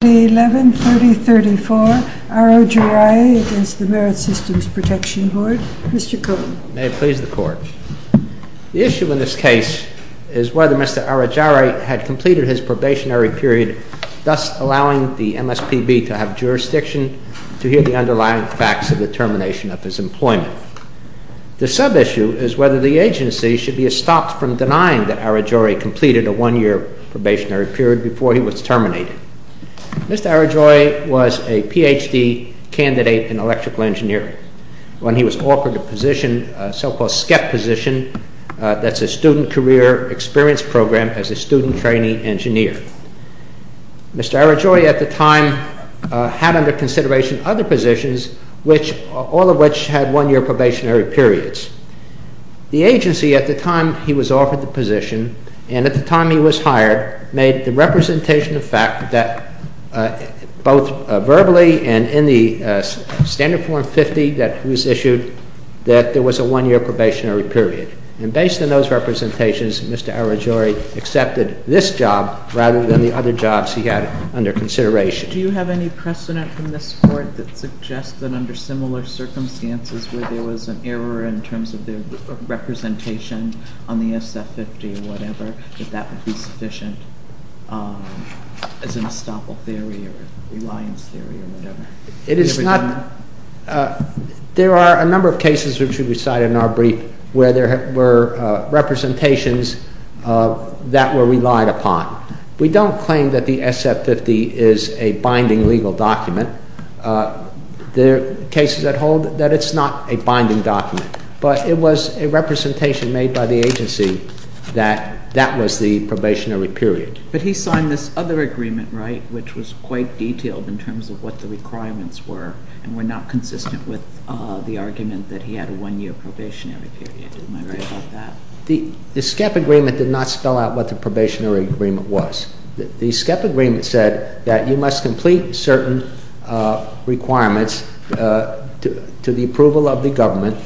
The issue in this case is whether Mr. Arojureye had completed his probationary period, thus allowing the MSPB to have jurisdiction to hear the underlying facts of the termination of his employment. The sub-issue is whether the agency should be stopped from denying that Arojureye completed a one-year probationary period before he was terminated. Mr. Arojureye was a Ph.D. candidate in electrical engineering when he was offered a position, so-called SCEP position, that's a student career experience program as a student training engineer. Mr. Arojureye at the time had under consideration other positions, all of which had one-year probationary periods. The agency, at the time he was offered the position, and at the time he was hired, made the representation of fact that both verbally and in the standard form 50 that was issued, that there was a one-year probationary period. And based on those representations, Mr. Arojureye accepted this job rather than the other jobs he had under consideration. Do you have any precedent from this Court that suggests that under similar circumstances where there was an error in terms of the representation on the SF50 or whatever, that that would be sufficient as an estoppel theory or reliance theory or whatever? It is not. There are a number of cases which we cited in our brief where there were representations that were relied upon. We don't claim that the SF50 is a binding legal document. There are cases that hold that it's not a binding document. But it was a representation made by the agency that that was the probationary period. But he signed this other agreement, right, which was quite detailed in terms of what the requirements were and were not consistent with the argument that he had a one-year probationary period. Am I right about that? The SCEP agreement did not spell out what the probationary agreement was. The SCEP agreement said that you must complete certain requirements to the approval of the government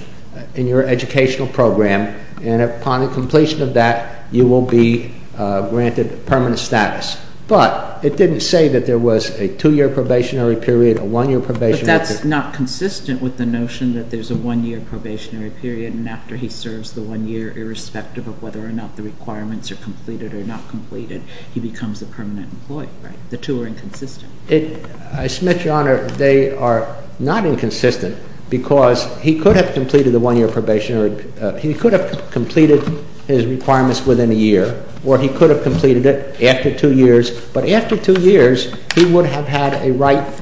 in your educational program, and upon the completion of that, you will be granted permanent status. But it didn't say that there was a two-year probationary period, a one-year probationary period. But that's not consistent with the notion that there's a one-year probationary period and after he serves the one year, irrespective of whether or not the requirements are completed or not completed, he becomes a permanent employee, right? The two are inconsistent. I submit, Your Honor, they are not inconsistent because he could have completed the one-year probationary period, he could have completed his requirements within a year, or he could have completed it after two years, but after two years, he would have had a right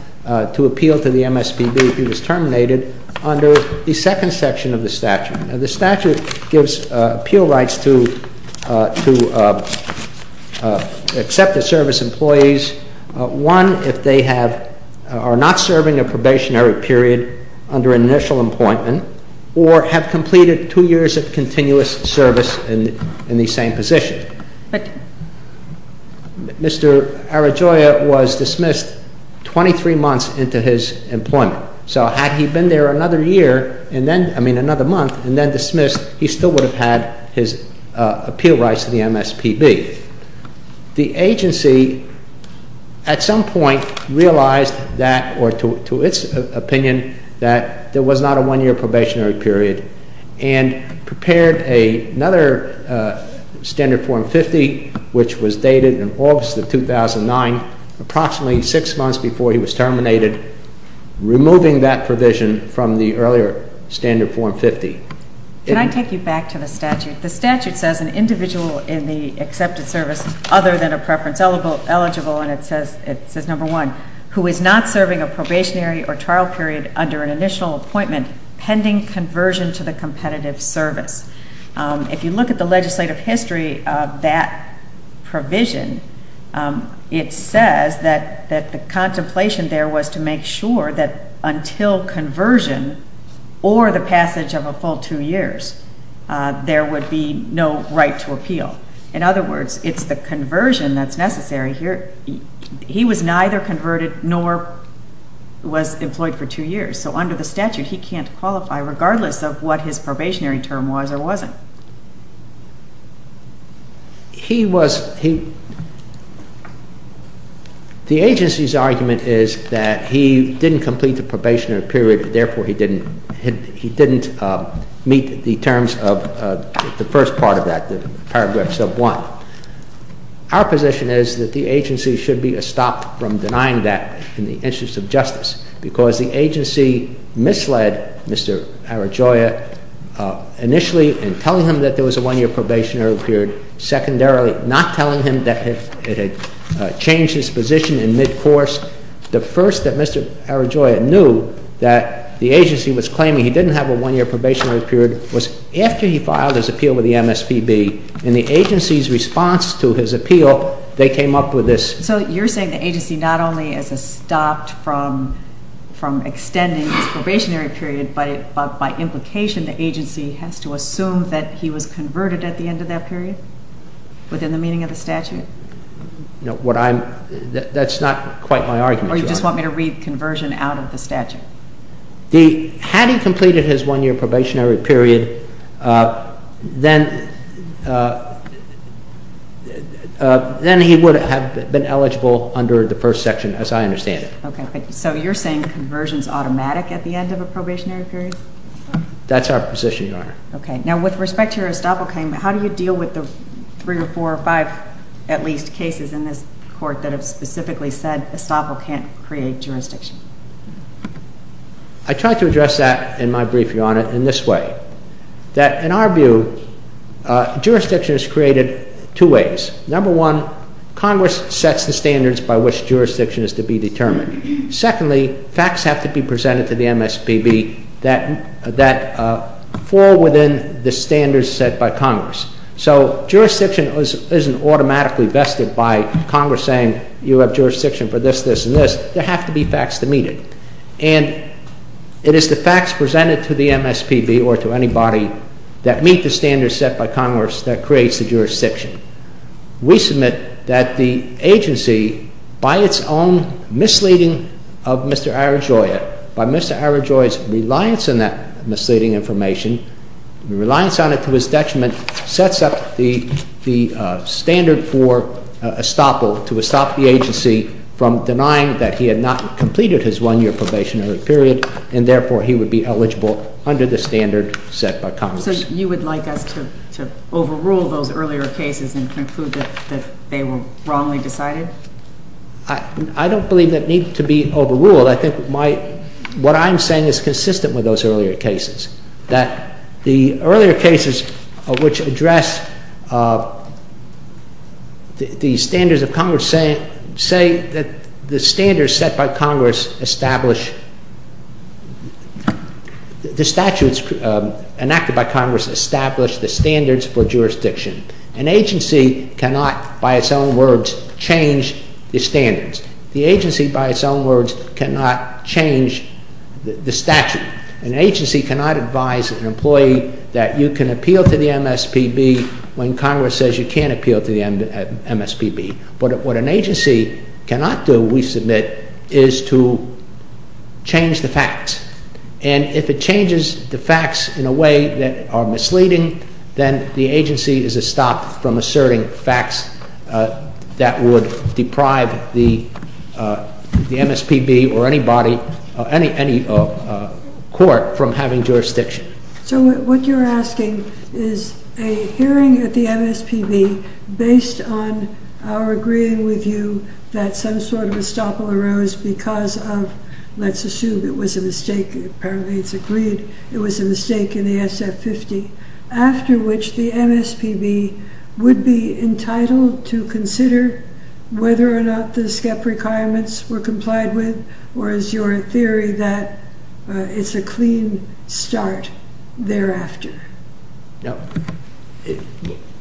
to appeal to the MSPB if he was terminated under the second section of the statute. The statute gives appeal rights to accepted service employees, one, if they are not serving a probationary period under initial employment, or have completed two years of continuous service in the same position. Mr. Arajoya was dismissed 23 months into his employment. So had he been there another year, I mean another month, and then dismissed, he still would have had his appeal rights to the MSPB. The agency, at some point, realized that, or to its opinion, that there was not a one-year probationary period and prepared another standard form 50, which was dated in August of 2009, approximately six months before he was terminated, removing that provision from the earlier standard form 50. Can I take you back to the statute? The statute says an individual in the accepted service, other than a preference eligible, and it says number one, who is not serving a probationary or trial period under an initial appointment pending conversion to the competitive service. If you look at the legislative history of that provision, it says that the contemplation there was to make sure that until conversion or the passage of a full two years, there would be no right to appeal. In other words, it's the conversion that's necessary here. He was neither converted nor was employed for two years. So under the statute, he can't qualify regardless of what his probationary term was or wasn't. He was, he, the agency's argument is that he didn't complete the probationary period, therefore he didn't, he didn't meet the terms of the first part of that, the paragraphs of one. Our position is that the agency should be stopped from denying that in the interest of justice because the agency misled Mr. Arajoya initially in telling him that there was a one-year probationary period, secondarily not telling him that it had changed his position in mid-course. The first that Mr. Arajoya knew that the agency was claiming he didn't have a one-year probationary period was after he filed his appeal with the MSPB, and the agency's response to his appeal, they came up with this. So you're saying the agency not only is stopped from extending his probationary period, but by implication the agency has to assume that he was converted at the end of that period within the meaning of the statute? What I'm, that's not quite my argument. Or you just want me to read conversion out of the statute? Had he completed his one-year probationary period, then he would have been eligible under the first section as I understand it. Okay. So you're saying conversion's automatic at the end of a probationary period? That's our position, Your Honor. Okay. Now with respect to your estoppel claim, how do you deal with the three or four or five at least cases in this court that have specifically said estoppel can't create jurisdiction? I tried to address that in my brief, Your Honor, in this way, that in our view jurisdiction is created two ways. Number one, Congress sets the standards by which jurisdiction is to be determined. Secondly, facts have to be presented to the MSPB that fall within the standards set by Congress. So jurisdiction isn't automatically vested by Congress saying you have jurisdiction for this, this, and this. There have to be facts to meet it. And it is the facts presented to the MSPB or to anybody that meet the standards set by Congress that creates the jurisdiction. We submit that the agency, by its own misleading of Mr. Arajoya, by Mr. Arajoya's reliance on that misleading information, reliance on it to his detriment, sets up the standard for estoppel to estop the agency from denying that he had not completed his one-year probationary period, and therefore he would be eligible under the standard set by Congress. So you would like us to overrule those earlier cases and conclude that they were wrongly decided? I don't believe that needs to be overruled. I think what I'm saying is consistent with those earlier cases, that the earlier cases which address the standards of Congress say that the standards set by Congress establish – the statutes enacted by Congress establish the standards for jurisdiction. An agency cannot, by its own words, change the standards. The agency, by its own words, cannot change the statute. An agency cannot advise an employee that you can appeal to the MSPB when Congress says you can't appeal to the MSPB. But what an agency cannot do, we submit, is to change the facts. And if it changes the facts in a way that are misleading, then the agency is estopped from asserting facts that would deprive the MSPB or any body – any court from having jurisdiction. So what you're asking is a hearing at the MSPB based on our agreeing with you that some sort of estoppel arose because of – let's assume it was a mistake, apparently it's would be entitled to consider whether or not the SCEP requirements were complied with, or is your theory that it's a clean start thereafter? No.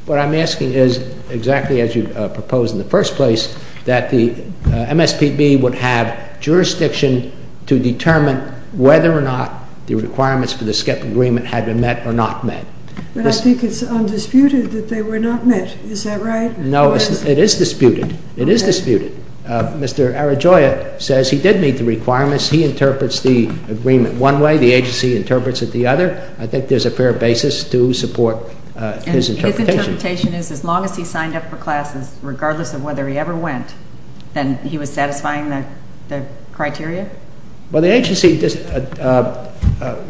What I'm asking is, exactly as you proposed in the first place, that the MSPB would have jurisdiction to determine whether or not the requirements for the SCEP agreement had been met or not met. But I think it's undisputed that they were not met. Is that right? No. It is disputed. It is disputed. Okay. Mr. Arajoya says he did meet the requirements. He interprets the agreement one way, the agency interprets it the other. I think there's a fair basis to support his interpretation. And his interpretation is as long as he signed up for classes, regardless of whether he ever went, then he was satisfying the criteria? Well, the agency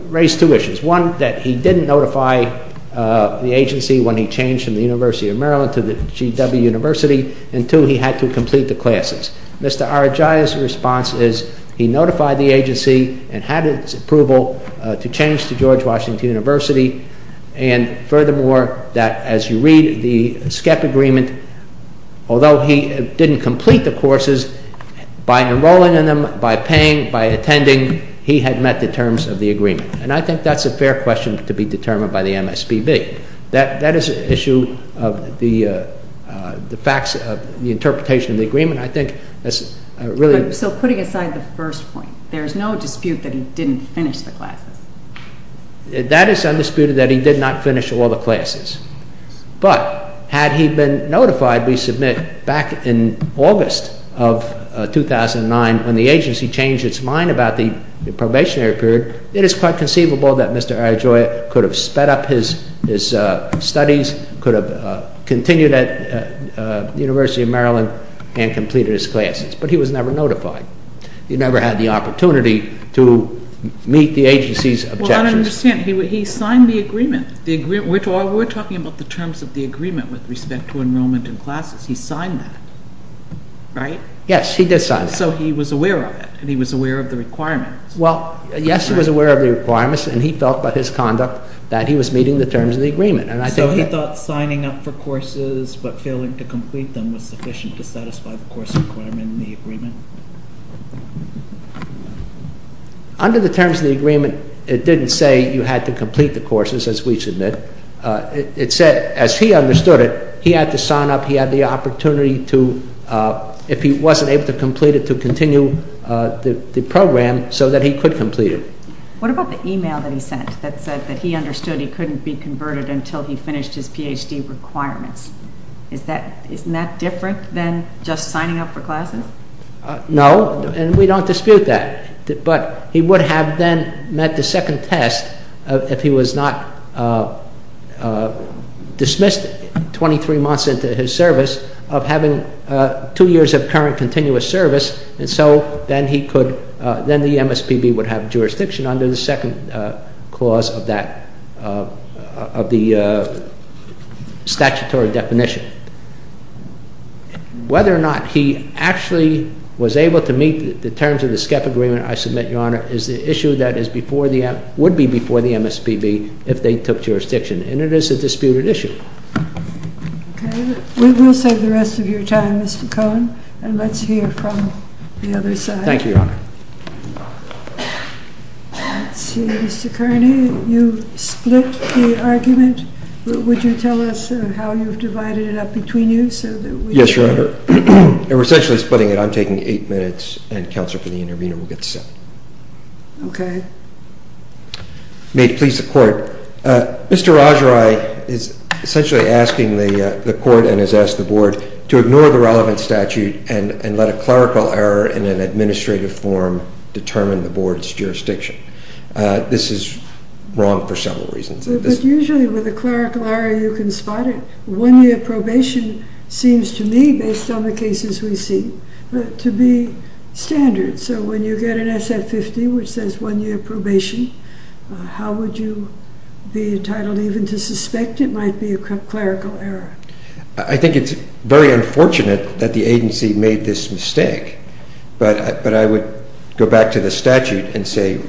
raised two issues. One, that he didn't notify the agency when he changed from the University of Maryland to the GW University, and two, he had to complete the classes. Mr. Arajoya's response is he notified the agency and had its approval to change to George Washington University, and furthermore, that as you read, the SCEP agreement, although he didn't complete the courses, by enrolling in them, by paying, by attending, he had met the terms of the agreement. And I think that's a fair question to be determined by the MSPB. That is an issue of the facts of the interpretation of the agreement. I think that's really... So putting aside the first point, there's no dispute that he didn't finish the classes? That is undisputed, that he did not finish all the classes. But, had he been notified, we submit, back in August of 2009, when the agency changed its mind about the probationary period, it is quite conceivable that Mr. Arajoya could have sped up his studies, could have continued at the University of Maryland, and completed his classes. But he was never notified. He never had the opportunity to meet the agency's objections. Well, I don't understand. He signed the agreement. We're talking about the terms of the agreement with respect to enrollment in classes. He signed that, right? Yes, he did sign that. So he was aware of it, and he was aware of the requirements. Well, yes, he was aware of the requirements, and he felt by his conduct that he was meeting the terms of the agreement. So he thought signing up for courses, but failing to complete them, was sufficient to satisfy the course requirement in the agreement? Under the terms of the agreement, it didn't say you had to complete the courses, as we submit. It said, as he understood it, he had to sign up, he had the opportunity to, if he wasn't able to complete it, to continue the program so that he could complete it. What about the email that he sent that said that he understood he couldn't be converted until he finished his Ph.D. requirements? Isn't that different than just signing up for classes? No, and we don't dispute that. But he would have then met the second test if he was not dismissed 23 months into his service of having two years of current continuous service, and so then he could, then the MSPB would have jurisdiction under the second clause of that, of the statutory definition. Whether or not he actually was able to meet the terms of the SCEP agreement, I submit, Your Honor, is the issue that is before the, would be before the MSPB if they took jurisdiction, and it is a disputed issue. Okay, we will save the rest of your time, Mr. Cohen, and let's hear from the other side. Thank you, Your Honor. Let's see, Mr. Kearney, you split the argument, would you tell us how you've divided it up? Yes, Your Honor, we're essentially splitting it, I'm taking eight minutes, and counsel for the intervener will get seven. Okay. May it please the Court, Mr. Rajarai is essentially asking the Court and has asked the Board to ignore the relevant statute and let a clerical error in an administrative form determine the Board's jurisdiction. This is wrong for several reasons. But usually with a clerical error, you can spot it. One-year probation seems to me, based on the cases we see, to be standard. So when you get an SF-50 which says one-year probation, how would you be entitled even to suspect it might be a clerical error? I think it's very unfortunate that the agency made this mistake, but I would go back to the statute and say,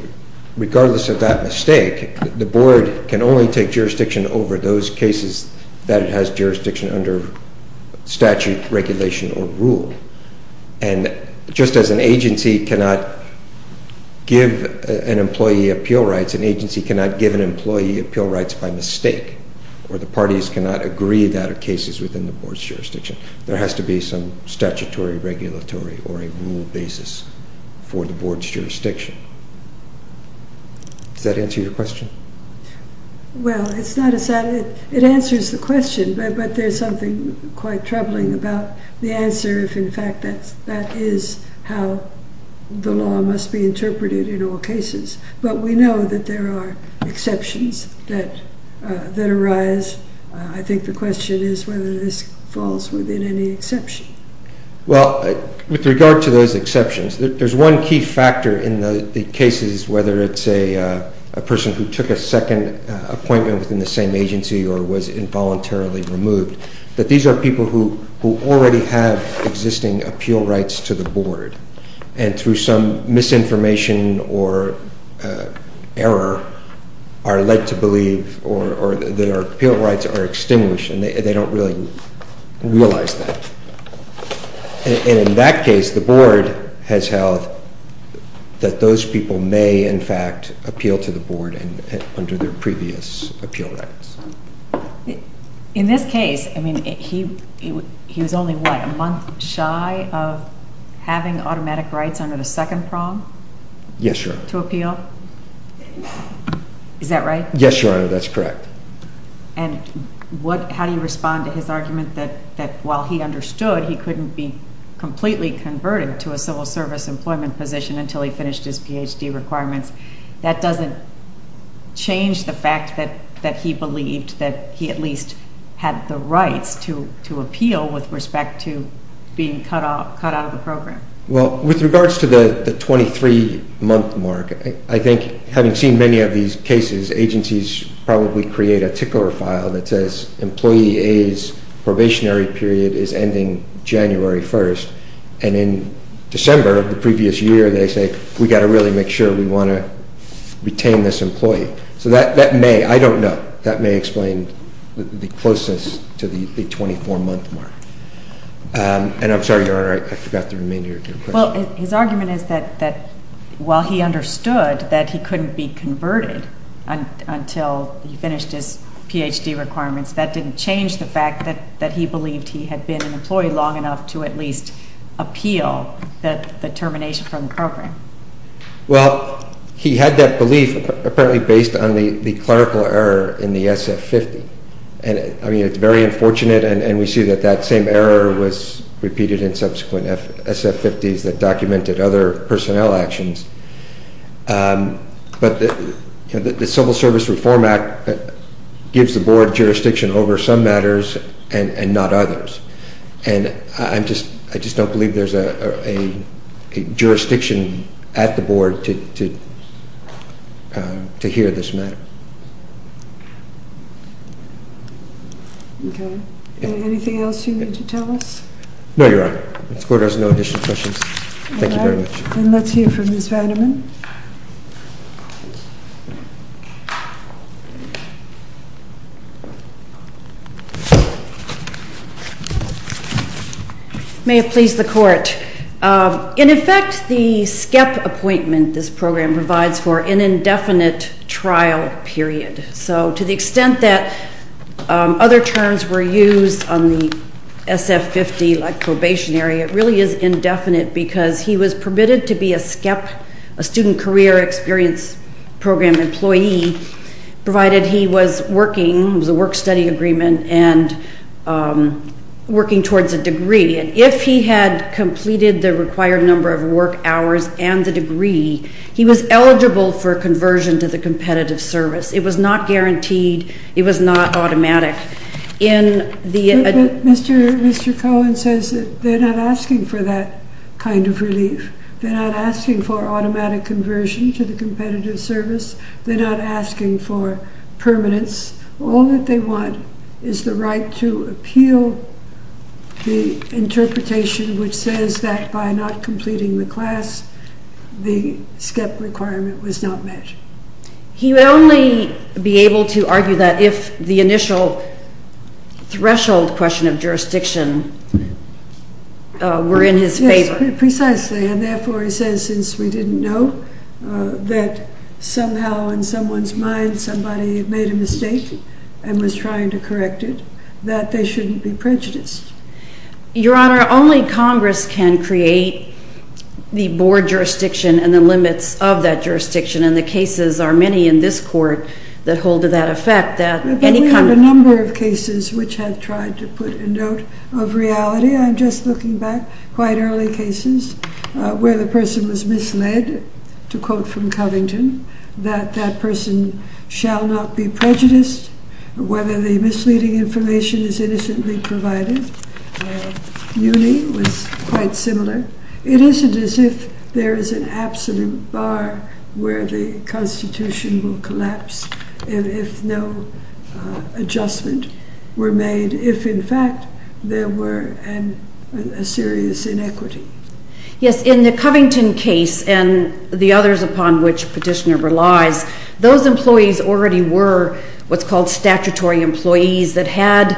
regardless of that mistake, the Board can only take jurisdiction over those cases that it has jurisdiction under statute, regulation, or rule. And just as an agency cannot give an employee appeal rights, an agency cannot give an employee appeal rights by mistake, or the parties cannot agree that are cases within the Board's jurisdiction. There has to be some statutory, regulatory, or a rule basis for the Board's jurisdiction. Does that answer your question? Well, it's not a... it answers the question, but there's something quite troubling about the answer if in fact that is how the law must be interpreted in all cases. But we know that there are exceptions that arise. I think the question is whether this falls within any exception. Well, with regard to those exceptions, there's one key factor in the cases, whether it's a person who took a second appointment within the same agency or was involuntarily removed, that these are people who already have existing appeal rights to the Board, and through some reason, those rights are extinguished and they don't really realize that. And in that case, the Board has held that those people may, in fact, appeal to the Board under their previous appeal rights. In this case, I mean, he was only, what, a month shy of having automatic rights under the second prong? Yes, Your Honor. To appeal? Is that right? Yes, Your Honor. That's correct. And how do you respond to his argument that while he understood he couldn't be completely converted to a civil service employment position until he finished his Ph.D. requirements, that doesn't change the fact that he believed that he at least had the rights to appeal with respect to being cut out of the program? Well, with regards to the 23-month mark, I think having seen many of these cases, agencies probably create a tickler file that says, employee A's probationary period is ending January 1st, and in December of the previous year, they say, we've got to really make sure we want to retain this employee. So that may, I don't know, that may explain the closeness to the 24-month mark. And I'm sorry, Your Honor, I forgot the remainder of your question. Well, his argument is that while he understood that he couldn't be converted until he finished his Ph.D. requirements, that didn't change the fact that he believed he had been an employee long enough to at least appeal the termination from the program. Well, he had that belief apparently based on the clerical error in the SF-50. And I mean, it's very unfortunate, and we see that that same error was repeated in subsequent SF-50s that documented other personnel actions. But the Civil Service Reform Act gives the Board jurisdiction over some matters and not others. And I just don't believe there's a jurisdiction at the Board to hear this matter. Okay. Anything else you need to tell us? No, Your Honor. All right. This Court has no additional questions. Thank you very much. All right. Then let's hear from Ms. Vanderman. May it please the Court. In effect, the SCEP appointment this program provides for an indefinite trial period. So to the extent that other terms were used on the SF-50, like probationary, it really is indefinite because he was permitted to be a SCEP, a Student Career Experience Program employee, provided he was working, it was a work-study agreement, and working towards a degree. And if he had completed the required number of work hours and the degree, he was eligible for conversion to the competitive service. It was not guaranteed. It was not automatic. Mr. Cohen says that they're not asking for that kind of relief. They're not asking for automatic conversion to the competitive service. They're not asking for permanence. All that they want is the right to appeal the interpretation which says that by not completing the class, the SCEP requirement was not met. He would only be able to argue that if the initial threshold question of jurisdiction were in his favor. Yes, precisely. And therefore, he says, since we didn't know, that somehow in someone's mind somebody made a mistake and was trying to correct it, that they shouldn't be prejudiced. Your Honor, only Congress can create the board jurisdiction and the limits of that jurisdiction and the cases are many in this court that hold to that effect that any kind of... But we have a number of cases which have tried to put a note of reality. I'm just looking back, quite early cases where the person was misled, to quote from Covington, that that person shall not be prejudiced, whether the misleading information is innocently provided. It isn't as if there is an absolute bar where the Constitution will collapse and if no adjustment were made, if in fact there were a serious inequity. Yes, in the Covington case and the others upon which Petitioner relies, those employees already were what's called statutory employees that had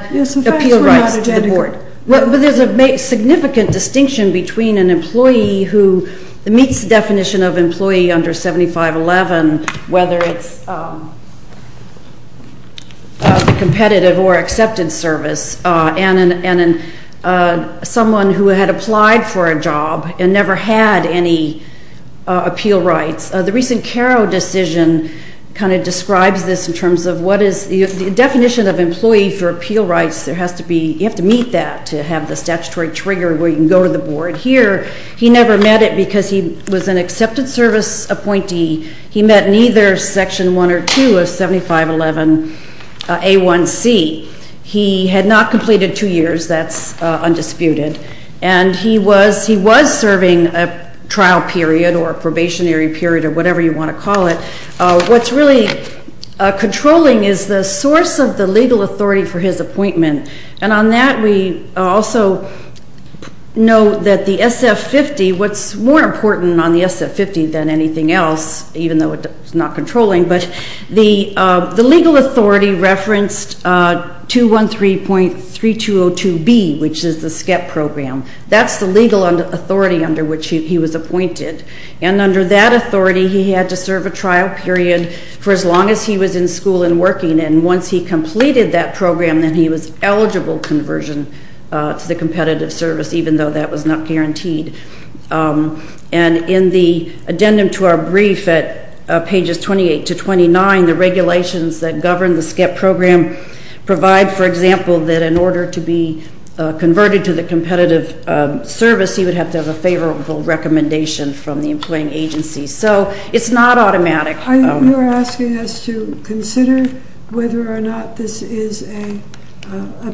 appeal rights to the board. But there's a significant distinction between an employee who meets the definition of employee under 7511, whether it's a competitive or accepted service, and someone who had applied for a job and never had any appeal rights. The recent Caro decision kind of describes this in terms of what is the definition of that to have the statutory trigger where you can go to the board here. He never met it because he was an accepted service appointee. He met neither Section 1 or 2 of 7511A1C. He had not completed two years, that's undisputed. And he was serving a trial period or a probationary period or whatever you want to call it. What's really controlling is the source of the legal authority for his appointment. And on that we also know that the SF50, what's more important on the SF50 than anything else, even though it's not controlling, but the legal authority referenced 213.3202B, which is the SCEP program. That's the legal authority under which he was appointed. And under that authority, he had to serve a trial period for as long as he was in school and working. And once he completed that program, then he was eligible conversion to the competitive service, even though that was not guaranteed. And in the addendum to our brief at pages 28 to 29, the regulations that govern the SCEP program provide, for example, that in order to be converted to the competitive service, he would have to have a favorable recommendation from the employing agency. So it's not automatic. Are you asking us to consider whether or not this is a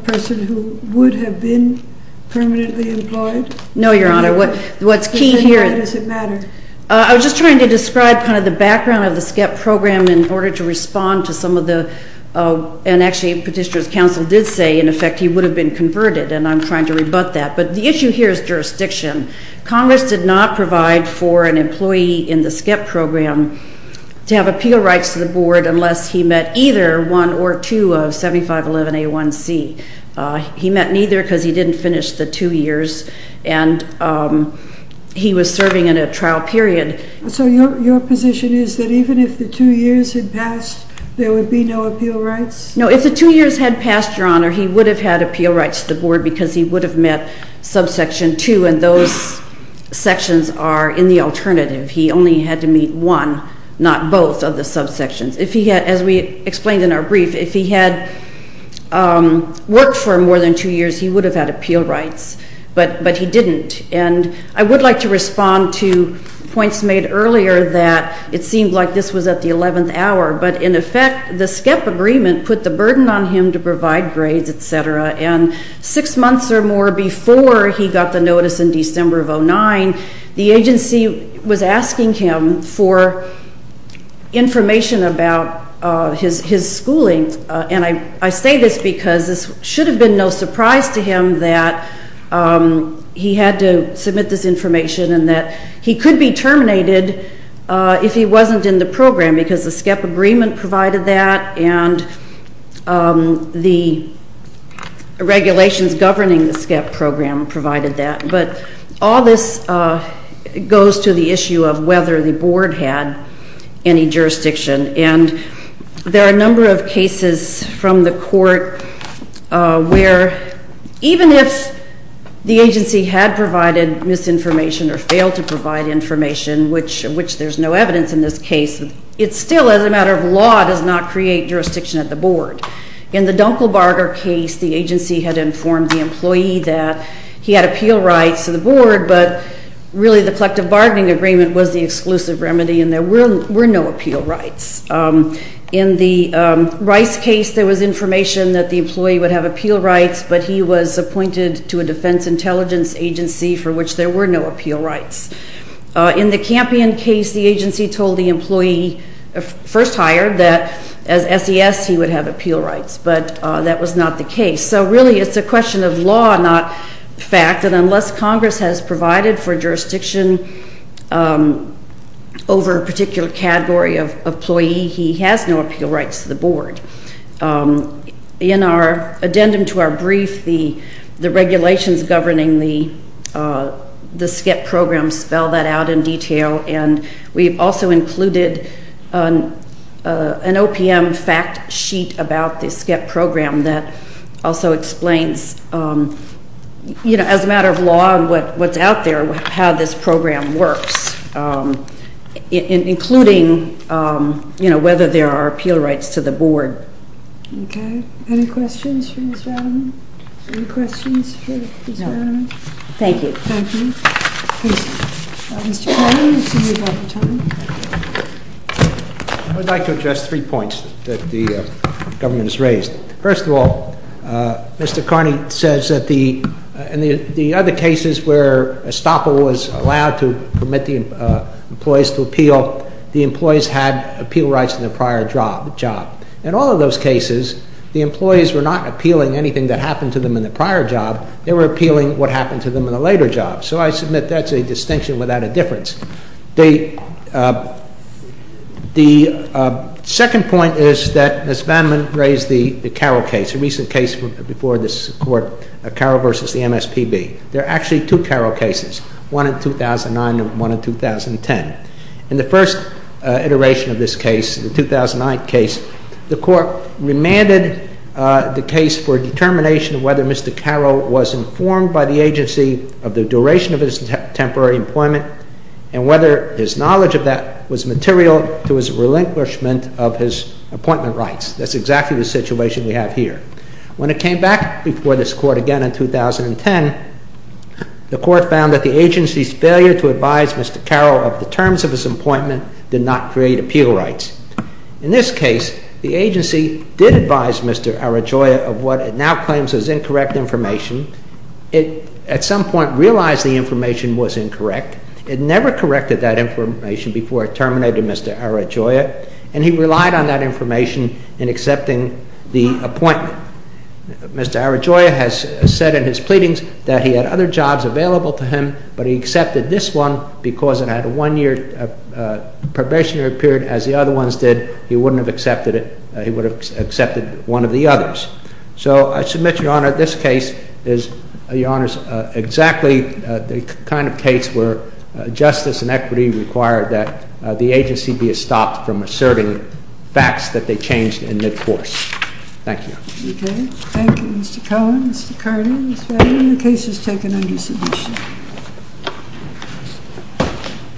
person who would have been permanently employed? No, Your Honor. What's key here is... Then why does it matter? I was just trying to describe kind of the background of the SCEP program in order to respond to some of the, and actually Petitioner's counsel did say, in effect, he would have been converted, and I'm trying to rebut that. But the issue here is jurisdiction. Congress did not provide for an employee in the SCEP program to have appeal rights to the board unless he met either one or two of 7511A1C. He met neither because he didn't finish the two years, and he was serving in a trial period. So your position is that even if the two years had passed, there would be no appeal rights? No, if the two years had passed, Your Honor, he would have had appeal rights to the board because he would have met subsection two, and those sections are in the alternative. He only had to meet one, not both of the subsections. If he had, as we explained in our brief, if he had worked for more than two years, he would have had appeal rights, but he didn't. And I would like to respond to points made earlier that it seemed like this was at the 11th hour, but in effect, the SCEP agreement put the burden on him to provide grades, et cetera, and six months or more before he got the notice in December of 2009, the agency was asking him for information about his schooling, and I say this because this should have been no surprise to him that he had to submit this information and that he could be terminated if he wasn't in the program because the SCEP agreement provided that and the regulations governing the SCEP program provided that, but all this goes to the issue of whether the board had any jurisdiction, and there are a number of cases from the court where even if the agency had provided misinformation or failed to provide information, which there's no evidence in this case, it still, as a matter of law, does not create jurisdiction at the board. In the Dunkelbarger case, the agency had informed the employee that he had appeal rights to the board, but really the collective bargaining agreement was the exclusive remedy and there were no appeal rights. In the Rice case, there was information that the employee would have appeal rights, but he was appointed to a defense intelligence agency for which there were no appeal rights. In the Campion case, the agency told the employee, first hired, that as SES, he would have appeal rights, but that was not the case, so really it's a question of law, not fact, and unless Congress has provided for jurisdiction over a particular category of employee, he has no appeal rights to the board. In our addendum to our brief, the regulations governing the SCEP program spell that out in detail, and we've also included an OPM fact sheet about the SCEP program that also explains, you know, as a matter of law and what's out there, how this program works, including, you know, whether there are appeal rights to the board. Okay. Any questions for Ms. Rademan? Any questions for Ms. Rademan? No. Thank you. Thank you. Mr. Carney, you seem to be out of time. I would like to address three points that the government has raised. First of all, Mr. Carney says that in the other cases where a stopper was allowed to permit the employees to appeal, the employees had appeal rights in their prior job. In all of those cases, the employees were not appealing anything that happened to them in their prior job. They were appealing what happened to them in a later job, so I submit that's a distinction without a difference. The second point is that Ms. Rademan raised the Carroll case, a recent case before this Court, Carroll v. the MSPB. There are actually two Carroll cases, one in 2009 and one in 2010. In the first iteration of this case, the 2009 case, the Court remanded the case for determination of whether Mr. Carroll was informed by the agency of the duration of his temporary employment and whether his knowledge of that was material to his relinquishment of his appointment rights. That's exactly the situation we have here. When it came back before this Court again in 2010, the Court found that the agency's failure to advise Mr. Carroll of the terms of his appointment did not create appeal rights. In this case, the agency did advise Mr. Arajoya of what it now claims is incorrect information. It, at some point, realized the information was incorrect. It never corrected that information before it terminated Mr. Arajoya, and he relied on that information in accepting the appointment. Mr. Arajoya has said in his pleadings that he had other jobs available to him, but he accepted this one because it had a one-year probationary period, as the other ones did. He wouldn't have accepted it. He would have accepted one of the others. So I submit, Your Honor, this case is, Your Honors, exactly the kind of case where justice and equity require that the agency be stopped from asserting facts that they changed in midcourse. Thank you. Okay. Thank you, Mr. Cohen, Mr. Carney, Mr. Adams. The case is taken under submission.